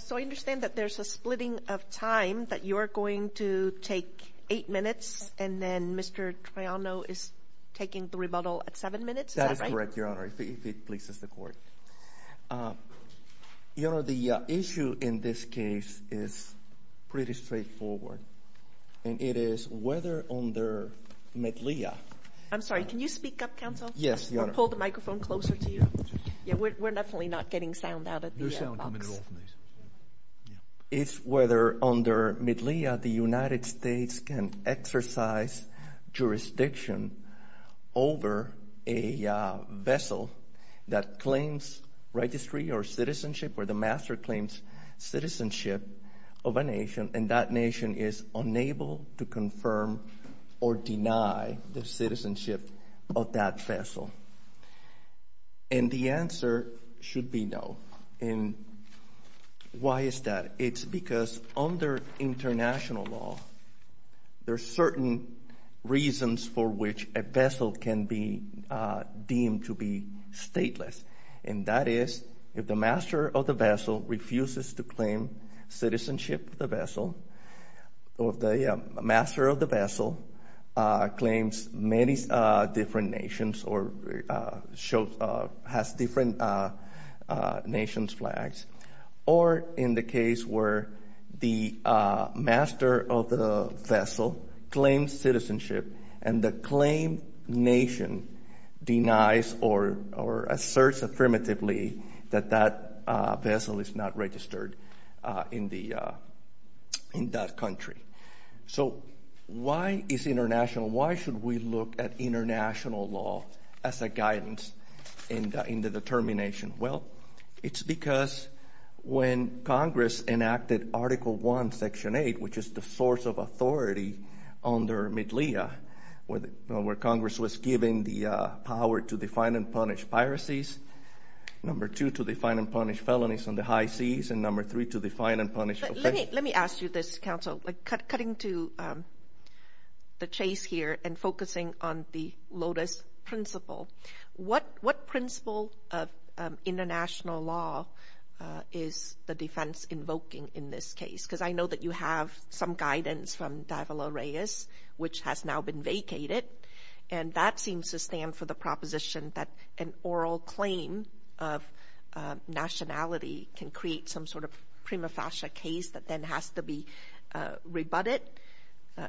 So I understand that there's a splitting of time that you're going to take eight minutes and then Mr. Trajano is taking the rebuttal at seven minutes? That is correct, Your Honor, if it pleases the court. Your Honor, the issue in this case is pretty straightforward and it is whether on their medleya... I'm sorry, can you speak up, counsel? Yes, Your Honor. I'll pull the microphone closer to you. Yeah, we're It's whether under medleya the United States can exercise jurisdiction over a vessel that claims registry or citizenship or the master claims citizenship of a nation and that nation is unable to confirm or deny the Why is that? It's because under international law there are certain reasons for which a vessel can be deemed to be stateless and that is if the master of the vessel refuses to claim citizenship of the vessel or the master of the vessel claims many different nations or has different nation's flags or in the case where the master of the vessel claims citizenship and the claimed nation denies or asserts affirmatively that that vessel is not registered in that country. So why is international, why should we look at because when Congress enacted Article 1, Section 8, which is the source of authority under medleya, where Congress was given the power to define and punish piracies, number two to define and punish felonies on the high seas, and number three to define and punish... Let me ask you this, counsel. Cutting to the chase here and focusing on the Lotus principle, what principle of international law is the defense invoking in this case? Because I know that you have some guidance from Davila Reyes which has now been vacated and that seems to stand for the proposition that an oral claim of nationality can create some sort of prima facie case that then has to be rebutted.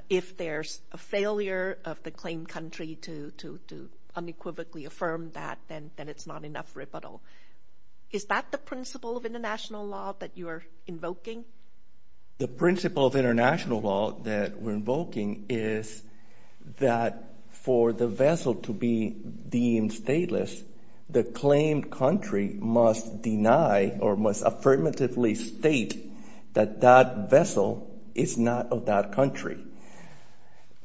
If there's a failure of the claimed country to unequivocally affirm that, then it's not enough rebuttal. Is that the principle of international law that you are invoking? The principle of international law that we're invoking is that for the vessel to be deemed stateless, the claimed country must deny or must affirmatively state that that vessel is not of that country.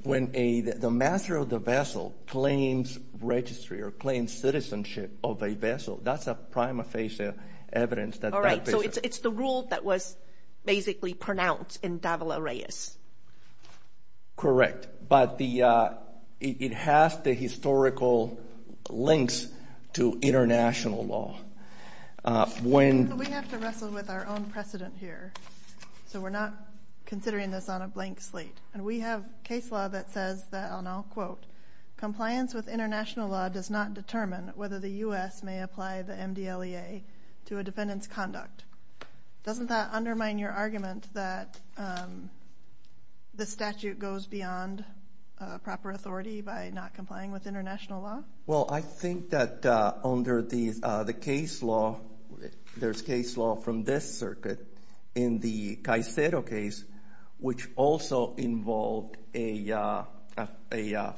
When the master of the vessel claims registry or claims citizenship of a vessel, that's a prima facie evidence that... All right, so it's the rule that was basically pronounced in Davila Reyes. Correct, but it has the historical links to international law. We have to wrestle with our own precedent here, so we're not going to go into that now. Quote, compliance with international law does not determine whether the U.S. may apply the MDLEA to a defendant's conduct. Doesn't that undermine your argument that the statute goes beyond proper authority by not complying with international law? Well, I think that under the case law, there's case law from this circuit in the Caicedo case which also involved a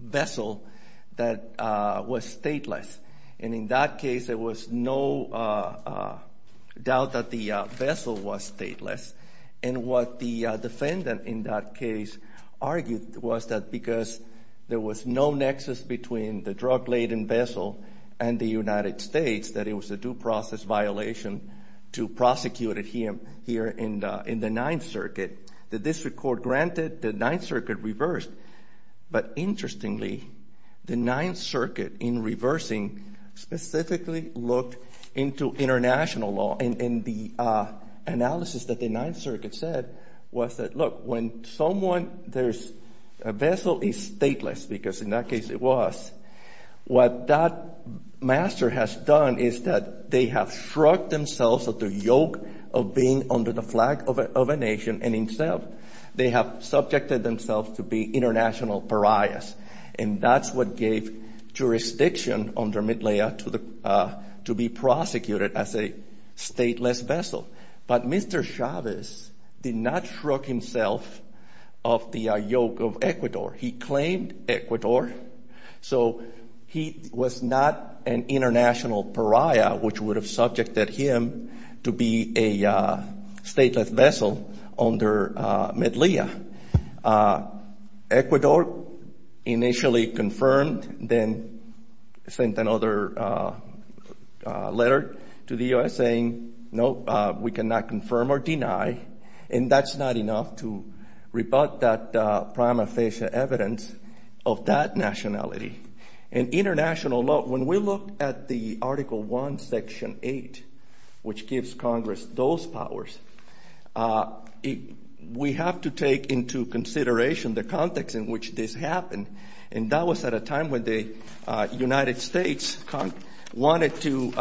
vessel that was stateless. And in that case, there was no doubt that the vessel was stateless. And what the defendant in that case argued was that because there was no nexus between the drug-laden vessel and the United States, that it was a due process violation to prosecute him here in the Ninth Circuit. The district court granted. The Ninth Circuit reversed. But interestingly, the Ninth Circuit, in reversing, specifically looked into international law. And the analysis that the Ninth Circuit said was that, look, when someone, there's a vessel is stateless, because in that case it was, what that master has done is that they have shrugged themselves at the yoke of being under the flag of a nation. And instead, they have subjected themselves to be international pariahs. And that's what gave jurisdiction under Midlayer to be prosecuted as a stateless vessel. But Mr. Chavez did not shrug himself of the yoke of Ecuador. He claimed Ecuador. So he was not an international pariah, which would have subjected him to be a stateless vessel under Midlayer. Ecuador initially confirmed, then sent another letter to the U.S. saying, no, we cannot confirm or deny. And that's not enough to rebut that prima facie evidence of that Section 8, which gives Congress those powers. We have to take into consideration the context in which this happened. And that was at a time when the United States wanted to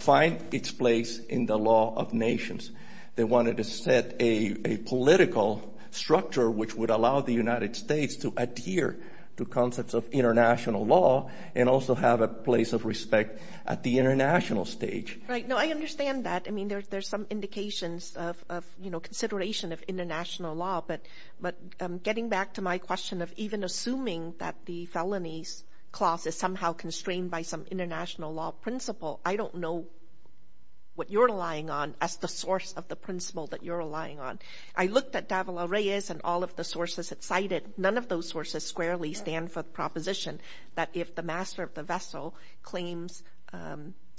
find its place in the law of nations. They wanted to set a political structure which would allow the United States to adhere to concepts of international law. But getting back to my question of even assuming that the felonies clause is somehow constrained by some international law principle, I don't know what you're relying on as the source of the principle that you're relying on. I looked at Davila Reyes and all of the sources that cite it. None of those sources squarely stand for the proposition that if the master of the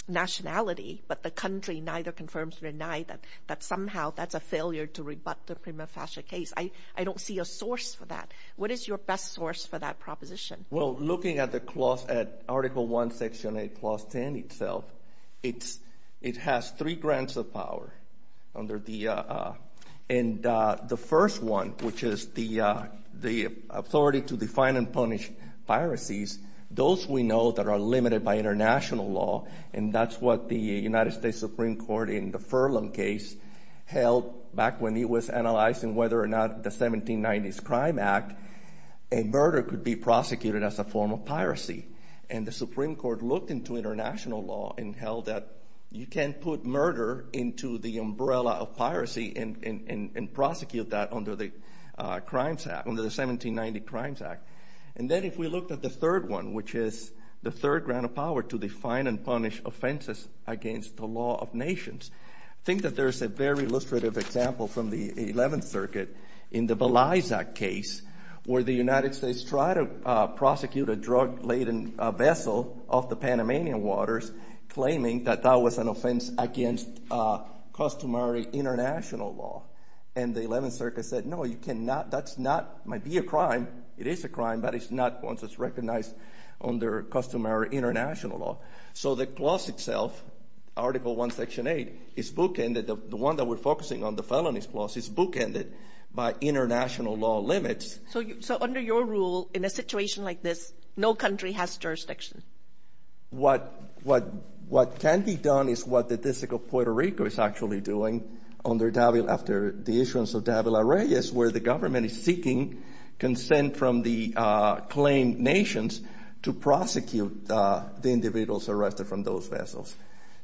nationality, but the country neither confirms or denies that somehow that's a failure to rebut the prima facie case. I don't see a source for that. What is your best source for that proposition? Well, looking at the clause at Article 1, Section 8, Clause 10 itself, it has three grants of power. And the first one, which is the authority to define and punish piracies, those we know that are limited by international law. And that's what the United States Supreme Court in the Furlan case held back when it was analyzing whether or not the 1790s Crime Act, a murder could be prosecuted as a form of piracy. And the Supreme Court looked into international law and held that you can't put murder into the umbrella of piracy and prosecute that under the Crimes Act, under the 1790 Crimes Act. And then if we looked at the third one, which is the third grant of power to define and punish offenses against the law of nations, I think that there's a very illustrative example from the 11th Circuit in the Belize Act case where the United States tried to prosecute a drug-laden vessel off the Panamanian waters, claiming that that was an offense against customary international law. And the 11th Circuit said, no, you cannot, that's not, might be a crime. It is a crime, but it's not one that's recognized under customary international law. So the clause itself, Article 1, Section 8, is bookended, the one that we're focusing on, the felonies clause, is bookended by international law limits. So under your rule, in a situation like this, no country has jurisdiction. What can be done is what the District of Puerto Rico is actually doing under Davila, after the issuance of Davila-Reyes, where the government is seeking consent from the claimed nations to prosecute the individuals arrested from those vessels.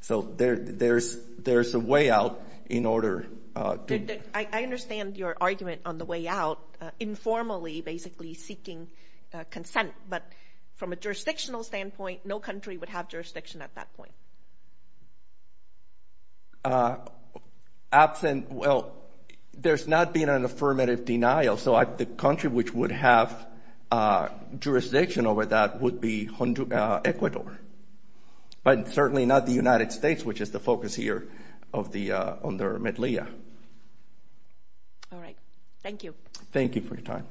So there's a way out in order to... I understand your argument on the way out, informally, basically, seeking consent. But from a jurisdictional standpoint, no country would have jurisdiction at that point. Absent, well, there's not been an affirmative denial. So the country which would have jurisdiction over that would be Ecuador. But certainly not the United States, which is the focus here of the, on their medleya. All right. Thank you. Thank you for your time.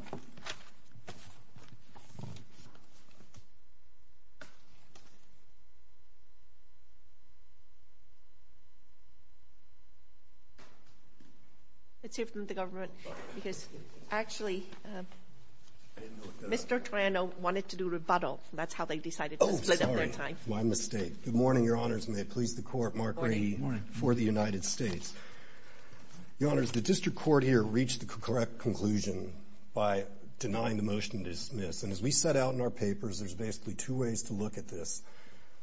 Let's hear from the government, because actually, Mr. Torano wanted to do rebuttal. That's how they decided to split up their time. Oh, sorry. My mistake. Good morning, Your Honors. And may it please the Court, Mark Rahe, for the United States. Your Honors, the district court here reached the correct conclusion by denying the motion to dismiss. And as we set out in our papers, there's basically two ways to look at this.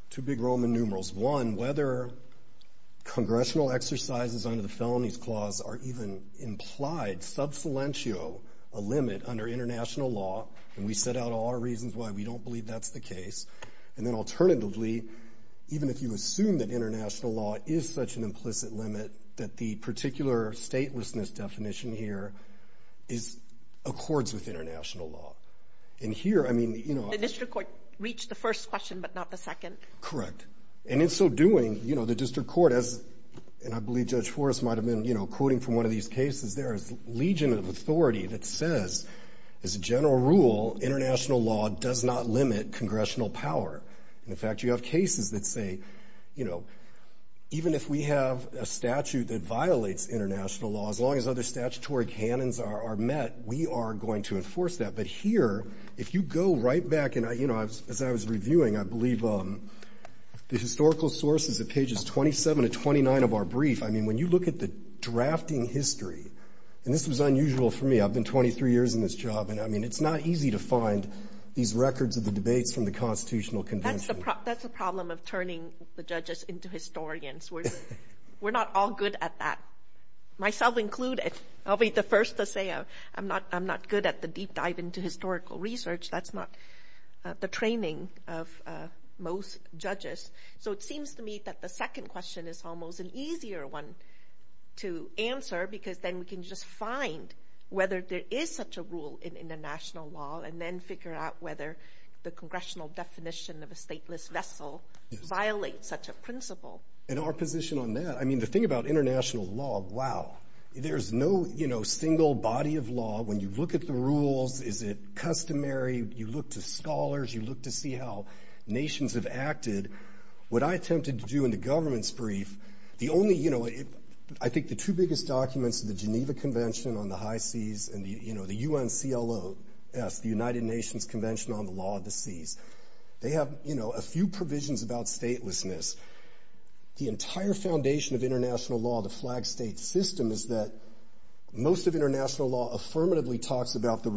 Two big Roman numerals. One, whether congressional exercises under the Felonies Clause are even implied, sub silentio, a limit under international law. And we set out all our reasons why we don't believe that's the case. And then alternatively, even if you assume that international law is such an implicit limit, that the particular statelessness definition here accords with international law. And here, I mean, you know... The first question, but not the second. Correct. And in so doing, you know, the district court has, and I believe Judge Forrest might have been, you know, quoting from one of these cases there, is a legion of authority that says, as a general rule, international law does not limit congressional power. In fact, you have cases that say, you know, even if we have a statute that violates international law, as long as other statutory cannons are met, we are going to enforce that. But here, if I was reviewing, I believe, the historical sources at pages 27 to 29 of our brief, I mean, when you look at the drafting history, and this was unusual for me, I've been 23 years in this job, and I mean, it's not easy to find these records of the debates from the Constitutional Convention. That's the problem of turning the judges into historians. We're not all good at that, myself included. I'll be the first to say I'm not good at the deep learning of most judges. So it seems to me that the second question is almost an easier one to answer, because then we can just find whether there is such a rule in international law, and then figure out whether the congressional definition of a stateless vessel violates such a principle. In our position on that, I mean, the thing about international law, wow, there's no, you know, single body of law. When you look at the rules, is it you see how nations have acted. What I attempted to do in the government's brief, the only, you know, I think the two biggest documents of the Geneva Convention on the High Seas, and the, you know, the UNCLOS, the United Nations Convention on the Law of the Seas. They have, you know, a few provisions about statelessness. The entire foundation of international law, the flag state system, is that most of international law affirmatively talks about the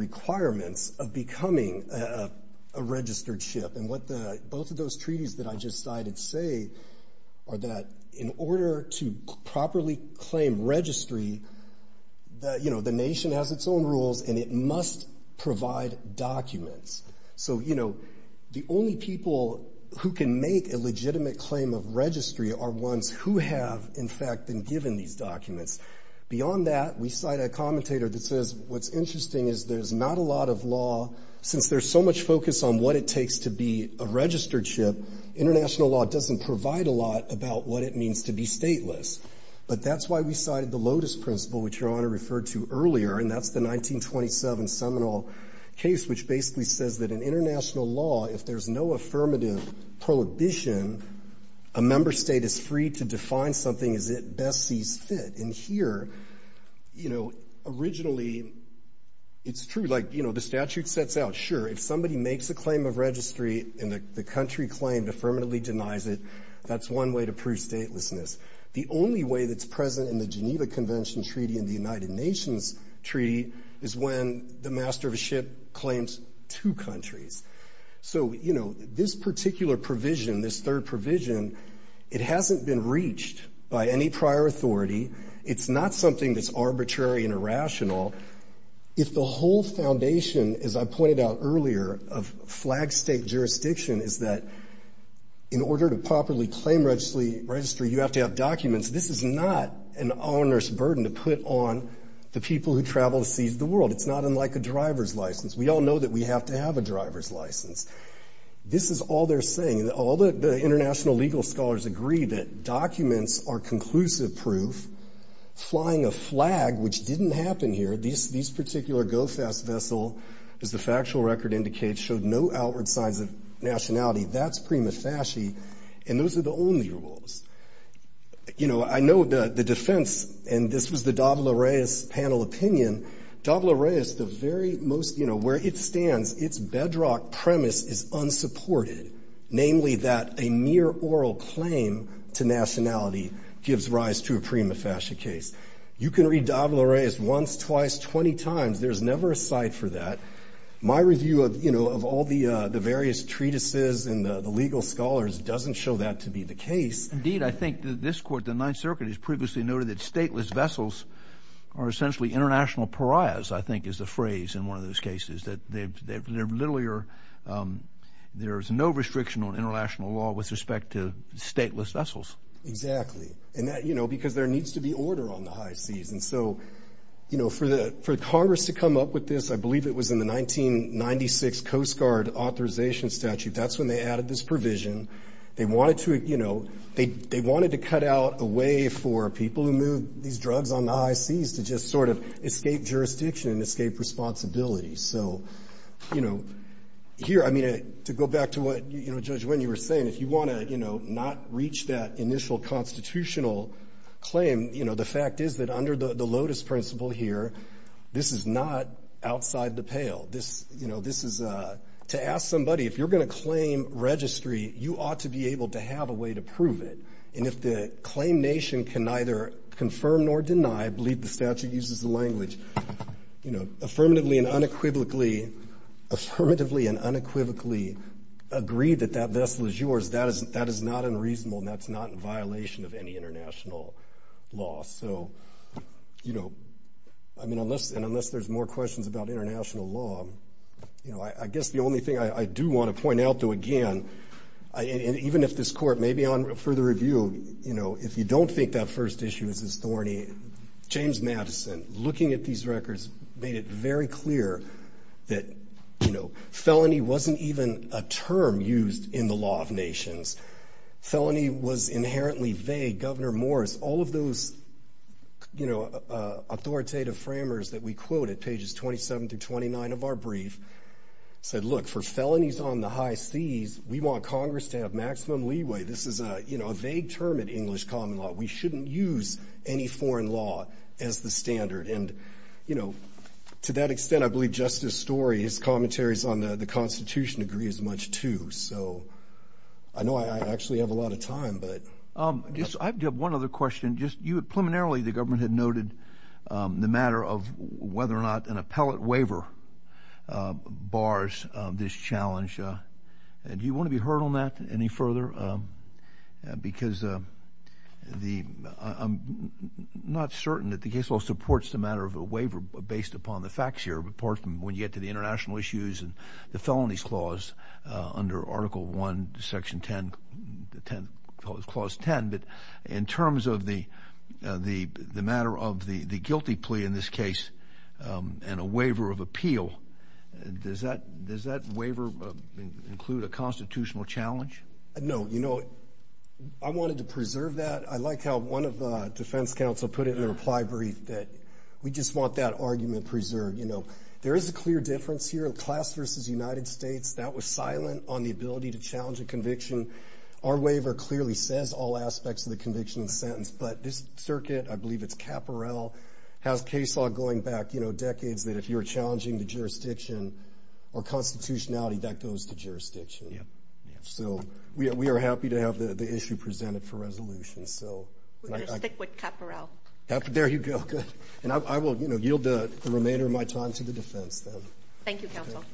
And what the, both of those treaties that I just cited say are that in order to properly claim registry, the, you know, the nation has its own rules, and it must provide documents. So, you know, the only people who can make a legitimate claim of registry are ones who have, in fact, been given these documents. Beyond that, we cite a commentator that says, what's interesting is there's not a lot of law, since there's so much focus on what it takes to be a registered ship, international law doesn't provide a lot about what it means to be stateless. But that's why we cited the Lotus Principle, which Your Honor referred to earlier, and that's the 1927 seminal case, which basically says that in international law, if there's no affirmative prohibition, a member state is free to define something as it best sees fit. And here, you know, originally, it's true. Like, you know, the statute sets out, sure, if somebody makes a claim of registry and the country claimed affirmatively denies it, that's one way to prove statelessness. The only way that's present in the Geneva Convention Treaty and the United Nations Treaty is when the master of a ship claims two countries. So, you know, this particular provision, this third provision, it hasn't been reached by any prior authority. It's not something that's arbitrary and the foundation, as I pointed out earlier, of flag state jurisdiction is that in order to properly claim registry, you have to have documents. This is not an onerous burden to put on the people who travel to seize the world. It's not unlike a driver's license. We all know that we have to have a driver's license. This is all they're saying. All the international legal scholars agree that documents are conclusive proof. Flying a flag, which didn't happen here, this particular GOFAS vessel, as the factual record indicates, showed no outward signs of nationality. That's prima facie, and those are the only rules. You know, I know the defense, and this was the Davila-Reyes panel opinion, Davila-Reyes, the very most, you know, where it stands, its bedrock premise is unsupported, namely that a mere oral claim to nationality gives rise to a prima facie violation. I've said this twice, 20 times, there's never a site for that. My review of, you know, of all the various treatises and the legal scholars doesn't show that to be the case. Indeed, I think that this court, the Ninth Circuit, has previously noted that stateless vessels are essentially international pariahs, I think is the phrase in one of those cases, that they literally are, there's no restriction on international law with respect to stateless vessels. Exactly, and that, you know, because there needs to be order on the high seas, and so, you know, for the Congress to come up with this, I believe it was in the 1996 Coast Guard authorization statute, that's when they added this provision. They wanted to, you know, they wanted to cut out a way for people who move these drugs on the high seas to just sort of escape jurisdiction and escape responsibility. So, you know, here, I mean, to go back to what, you know, Judge Winn, you were saying, if you want to, you know, not reach that initial constitutional claim, you know, the fact is that under the Lotus principle here, this is not outside the pale. This, you know, this is a to ask somebody, if you're going to claim registry, you ought to be able to have a way to prove it. And if the claim nation can neither confirm nor deny, I believe the statute uses the language, you know, affirmatively and unequivocally, affirmatively and unequivocally agree that that vessel is yours, that is not unreasonable, and that's not in violation of any international law. So, you know, I mean, unless there's more questions about international law, you know, I guess the only thing I do want to point out, though, again, and even if this court may be on further review, you know, if you don't think that first issue is as thorny, James Madison, looking at these records, made it very clear that, you know, felony wasn't even a term used in the law of nations. Felony was inherently vague. Governor Morris, all of those, you know, authoritative framers that we quoted, pages 27 through 29 of our brief, said, look, for felonies on the high seas, we want Congress to have maximum leeway. This is a, you know, a vague term in English common law. We shouldn't use any foreign law as the standard. And, you know, to that extent, I believe Justice Story's commentaries on the Constitution agree as much, too. So, I know I actually have a lot of time, but... I just, I have one other question. Just, you had preliminarily, the government had noted the matter of whether or not an appellate waiver bars this challenge. Do you want to be heard on that any further? Because the, I'm not certain that the case law supports the matter of a waiver based upon the facts here, apart from when you get to the international issues and the felonies clause under Article I, Section 10, Clause 10. But in terms of the matter of the guilty plea in this case and a waiver of appeal, does that waiver include a constitutional challenge? No. You know, I wanted to preserve that. I like how one of the defense counsel put it in a reply brief that we just want that argument preserved. You know, there is a clear difference here in class versus United States. That was silent on the ability to challenge a conviction. Our waiver clearly says all aspects of the conviction and sentence. But this circuit, I believe it's Caporal, has case law going back, you know, decades that if you're challenging the jurisdiction or constitutionality, that goes to jurisdiction. So we are happy to have the issue presented for resolution. So... We're going to stick with Caporal. There you go. And I will, you know, yield the remainder of my time to the defense then. Thank you, counsel.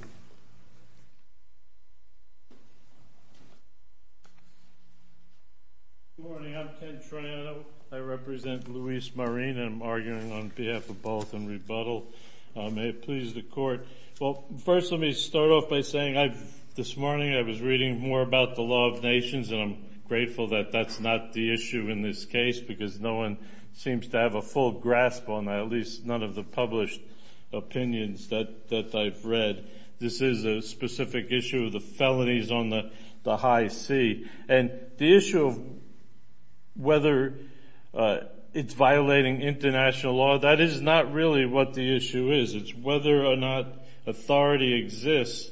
Good morning. I'm Ken Triano. I represent Luis Marin and I'm arguing on behalf of both in rebuttal. May it please the court. Well, first, let me start off by saying I've, this morning I was reading more about the law of nations and I'm grateful that that's not the issue in this case because no one seems to have a full grasp on that, at least none of the published opinions that I've read. This is a specific issue of the felonies on the high sea. And the issue of whether it's violating international law, that is not really what the issue is. It's whether or not authority exists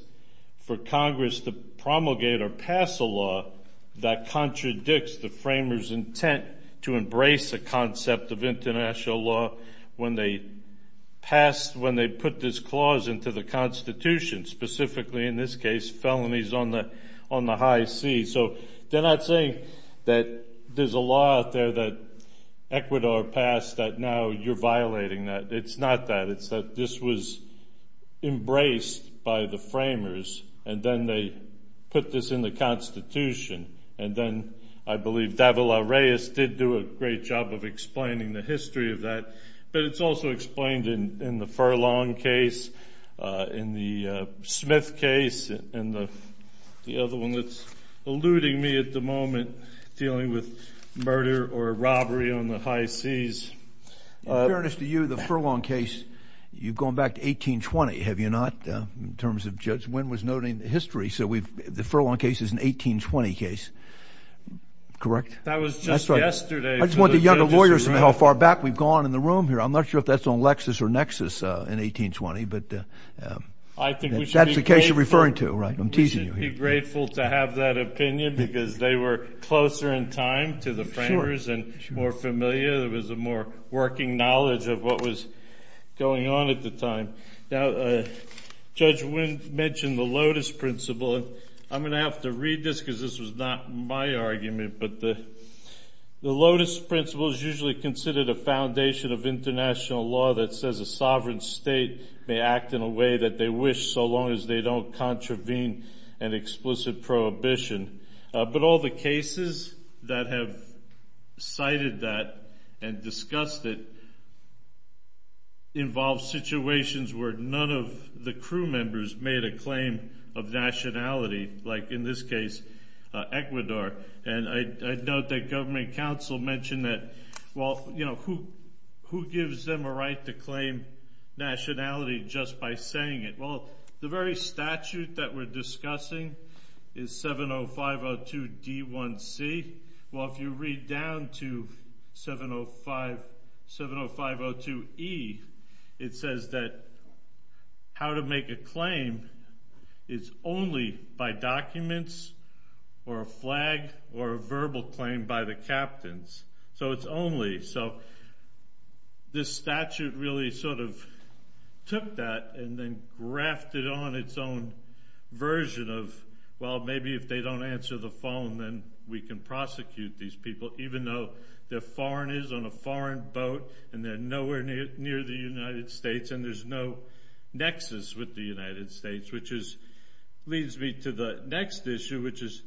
for Congress to promulgate or pass a law that contradicts the framers' intent to embrace a concept of international law when they pass, when they put this clause into the Constitution, specifically in this case, felonies on the high sea. So they're not saying that there's a law out there that Ecuador passed that now you're violating that. It's not that. It's that this was embraced by the framers and then they put this in the Constitution. And then I believe Davila Reyes did do a great job of explaining the history of that. But it's also explained in the Furlong case, in the Smith case, and the other one that's eluding me at the moment, dealing with murder or robbery on the high seas. In fairness to you, the Furlong case, you've gone back to 1820, have you not? In terms of Judge Wynn was noting the history. So the Furlong case is an 1820 case, correct? That was just yesterday. I just want the younger lawyers to know how far back we've gone in the room here. I'm not sure if that's on Lexis or Nexus in 1820. But that's the case you're referring to, right? I'm teasing you here. We should be grateful to have that opinion because they were closer in time to the framers and more familiar. There was a more working knowledge of what was going on at the time. Now, Judge Wynn mentioned the Lotus Principle. And I'm going to have to read this because this was not my argument. But the Lotus Principle is usually considered a foundation of international law that says a sovereign state may act in a way that they wish so long as they don't contravene an explicit prohibition. But all the cases that have cited that and discussed it involve situations where none of the crew members made a claim of nationality, like in this case, Ecuador. And I note that government counsel mentioned that, well, you know, who gives them a right to claim nationality just by saying it? Well, the very statute that we're discussing is 70502D1C. Well, if you read down to 70502E, it says that how to make a claim is only by documents or a flag or a verbal claim by the captains. So it's only. So this statute really sort of took that and then grafted on its own version of, well, maybe if they don't answer the phone, then we can prosecute these people, even though they're foreigners on a foreign boat and they're nowhere near the United States. And there's no nexus with the United States, which leads me to the next issue, which is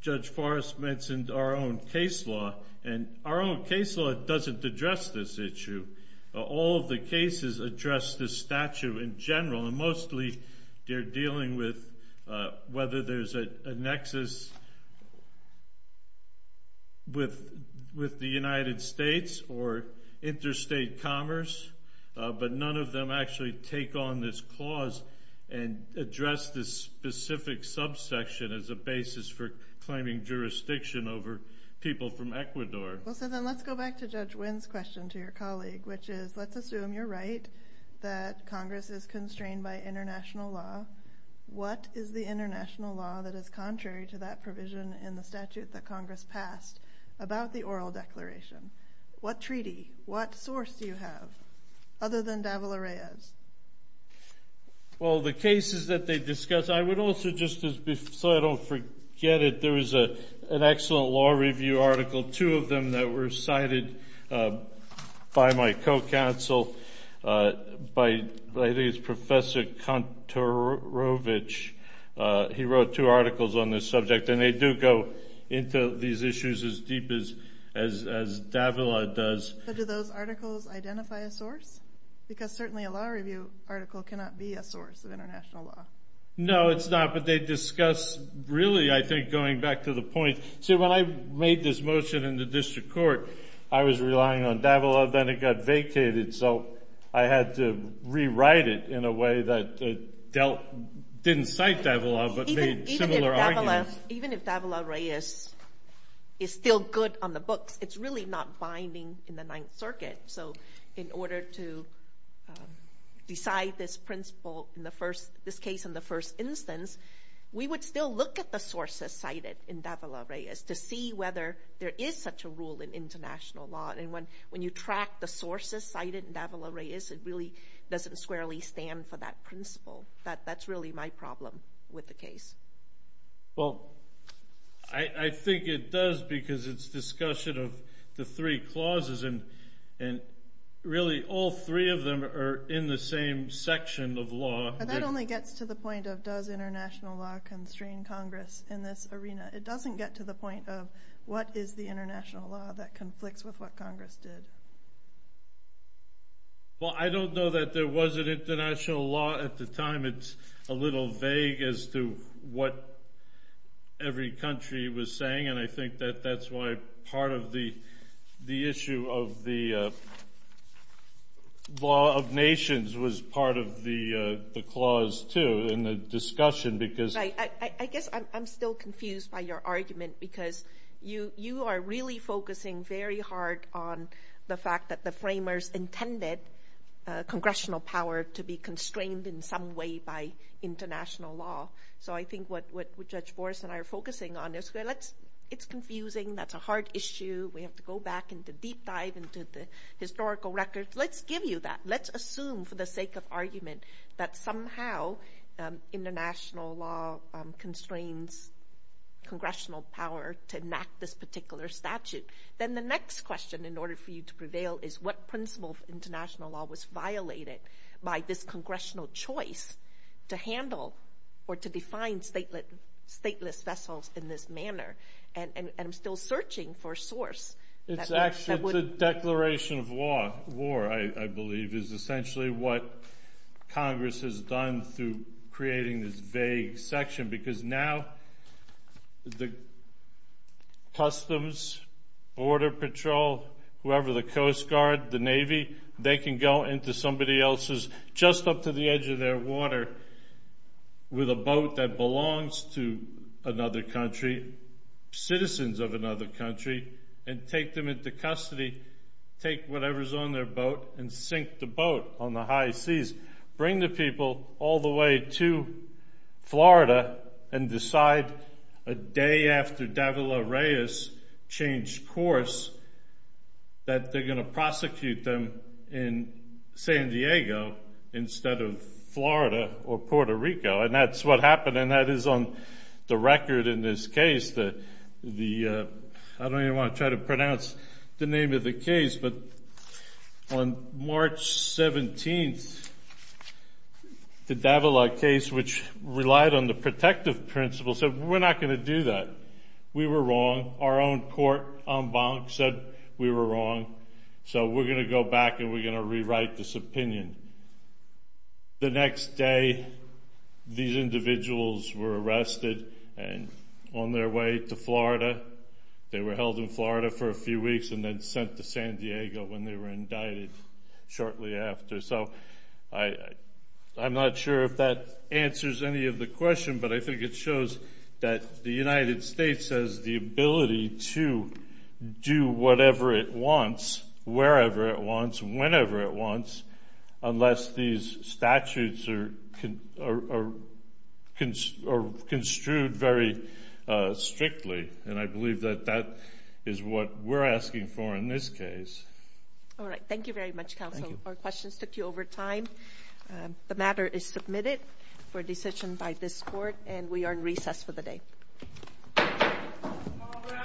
Judge Forrest mentioned our own case law. And our own case law doesn't address this issue. All of the cases address this statute in general. And mostly, they're dealing with whether there's a nexus with the United States or interstate commerce, but none of them actually take on this clause and address this specific subsection as a basis for claiming jurisdiction over people from Ecuador. Well, so then let's go back to Judge Wynn's question to your colleague, which is let's assume you're right that Congress is constrained by international law. What is the international law that is contrary to that provision in the statute that Congress passed about the oral declaration? What treaty? What source do you have other than Davila-Reyes? Well, the cases that they discuss, I would also just, so I don't forget it, there was an excellent law review article, two of them that were cited by my co-counsel, by I think it's Professor Kantorovich, he wrote two articles on this subject. And they do go into these issues as deep as Davila does. But do those articles identify a source? Because certainly a law review article cannot be a source of international law. No, it's not. But they discuss, really, I think going back to the point, see when I made this motion in the district court, I was relying on Davila, then it got vacated. So I had to rewrite it in a way that didn't cite Davila, but made similar arguments. Even if Davila-Reyes is still good on the books, it's really not binding in the Ninth Circuit. So in order to decide this principle in the first, this case in the first instance, we would still look at the sources cited in Davila-Reyes to see whether there is such a rule in international law. And when you track the sources cited in Davila-Reyes, it really doesn't squarely stand for that principle. That's really my problem with the case. Well, I think it does because it's discussion of the three clauses, and really all three of them are in the same section of law. But that only gets to the point of does international law constrain Congress in this arena? It doesn't get to the point of what is the international law that conflicts with what Congress did. Well, I don't know that there was an international law at the time. It's a little vague as to what every country was saying. And I think that that's why part of the issue of the law of nations was part of the clause, too, in the discussion. Right. I guess I'm still confused by your argument because you are really focusing very hard on the fact that the framers intended congressional power to be constrained in some way by international law. So I think what Judge Boris and I are focusing on is it's confusing. That's a hard issue. We have to go back into deep dive into the historical records. Let's give you that. Let's assume for the sake of argument that somehow international law constrains congressional power to enact this particular statute. Then the next question in order for you to prevail is what principle of international law was violated by this congressional choice to handle or to define stateless vessels in this manner? And I'm still searching for a source. It's actually the Declaration of War, I believe, is essentially what Congress has done through creating this vague section. Because now the Customs, Border Patrol, whoever, the Coast Guard, the Navy, they can go into somebody else's, just up to the edge of their water, with a boat that belongs to another country, citizens of another country, and take them into custody, take whatever's on their boat, and sink the boat on the high seas. Bring the people all the way to Florida and decide a day after Davila Reyes changed course that they're going to prosecute them in San Diego instead of Florida or Puerto Rico. And that's what happened. And that is on the record in this case. I don't even want to try to pronounce the name of the case. But on March 17th, the Davila case, which relied on the protective principle, said, we're not going to do that. We were wrong. Our own court, en banc, said we were wrong. So we're going to go back and we're going to rewrite this opinion. The next day, these individuals were arrested and on their way to Florida. They were held in Florida for a few weeks and then sent to San Diego when they were indicted shortly after. So I'm not sure if that answers any of the question. But I think it shows that the United States has the ability to do whatever it wants, wherever it wants, whenever it wants, unless these statutes are construed very strictly. And I believe that that is what we're asking for in this case. All right. Thank you very much, counsel. Our questions took you over time. The matter is submitted for decision by this court. And we are in recess for the day. All rise.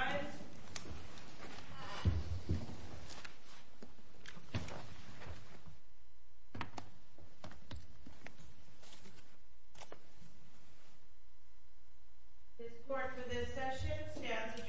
This court for this session stands adjourned.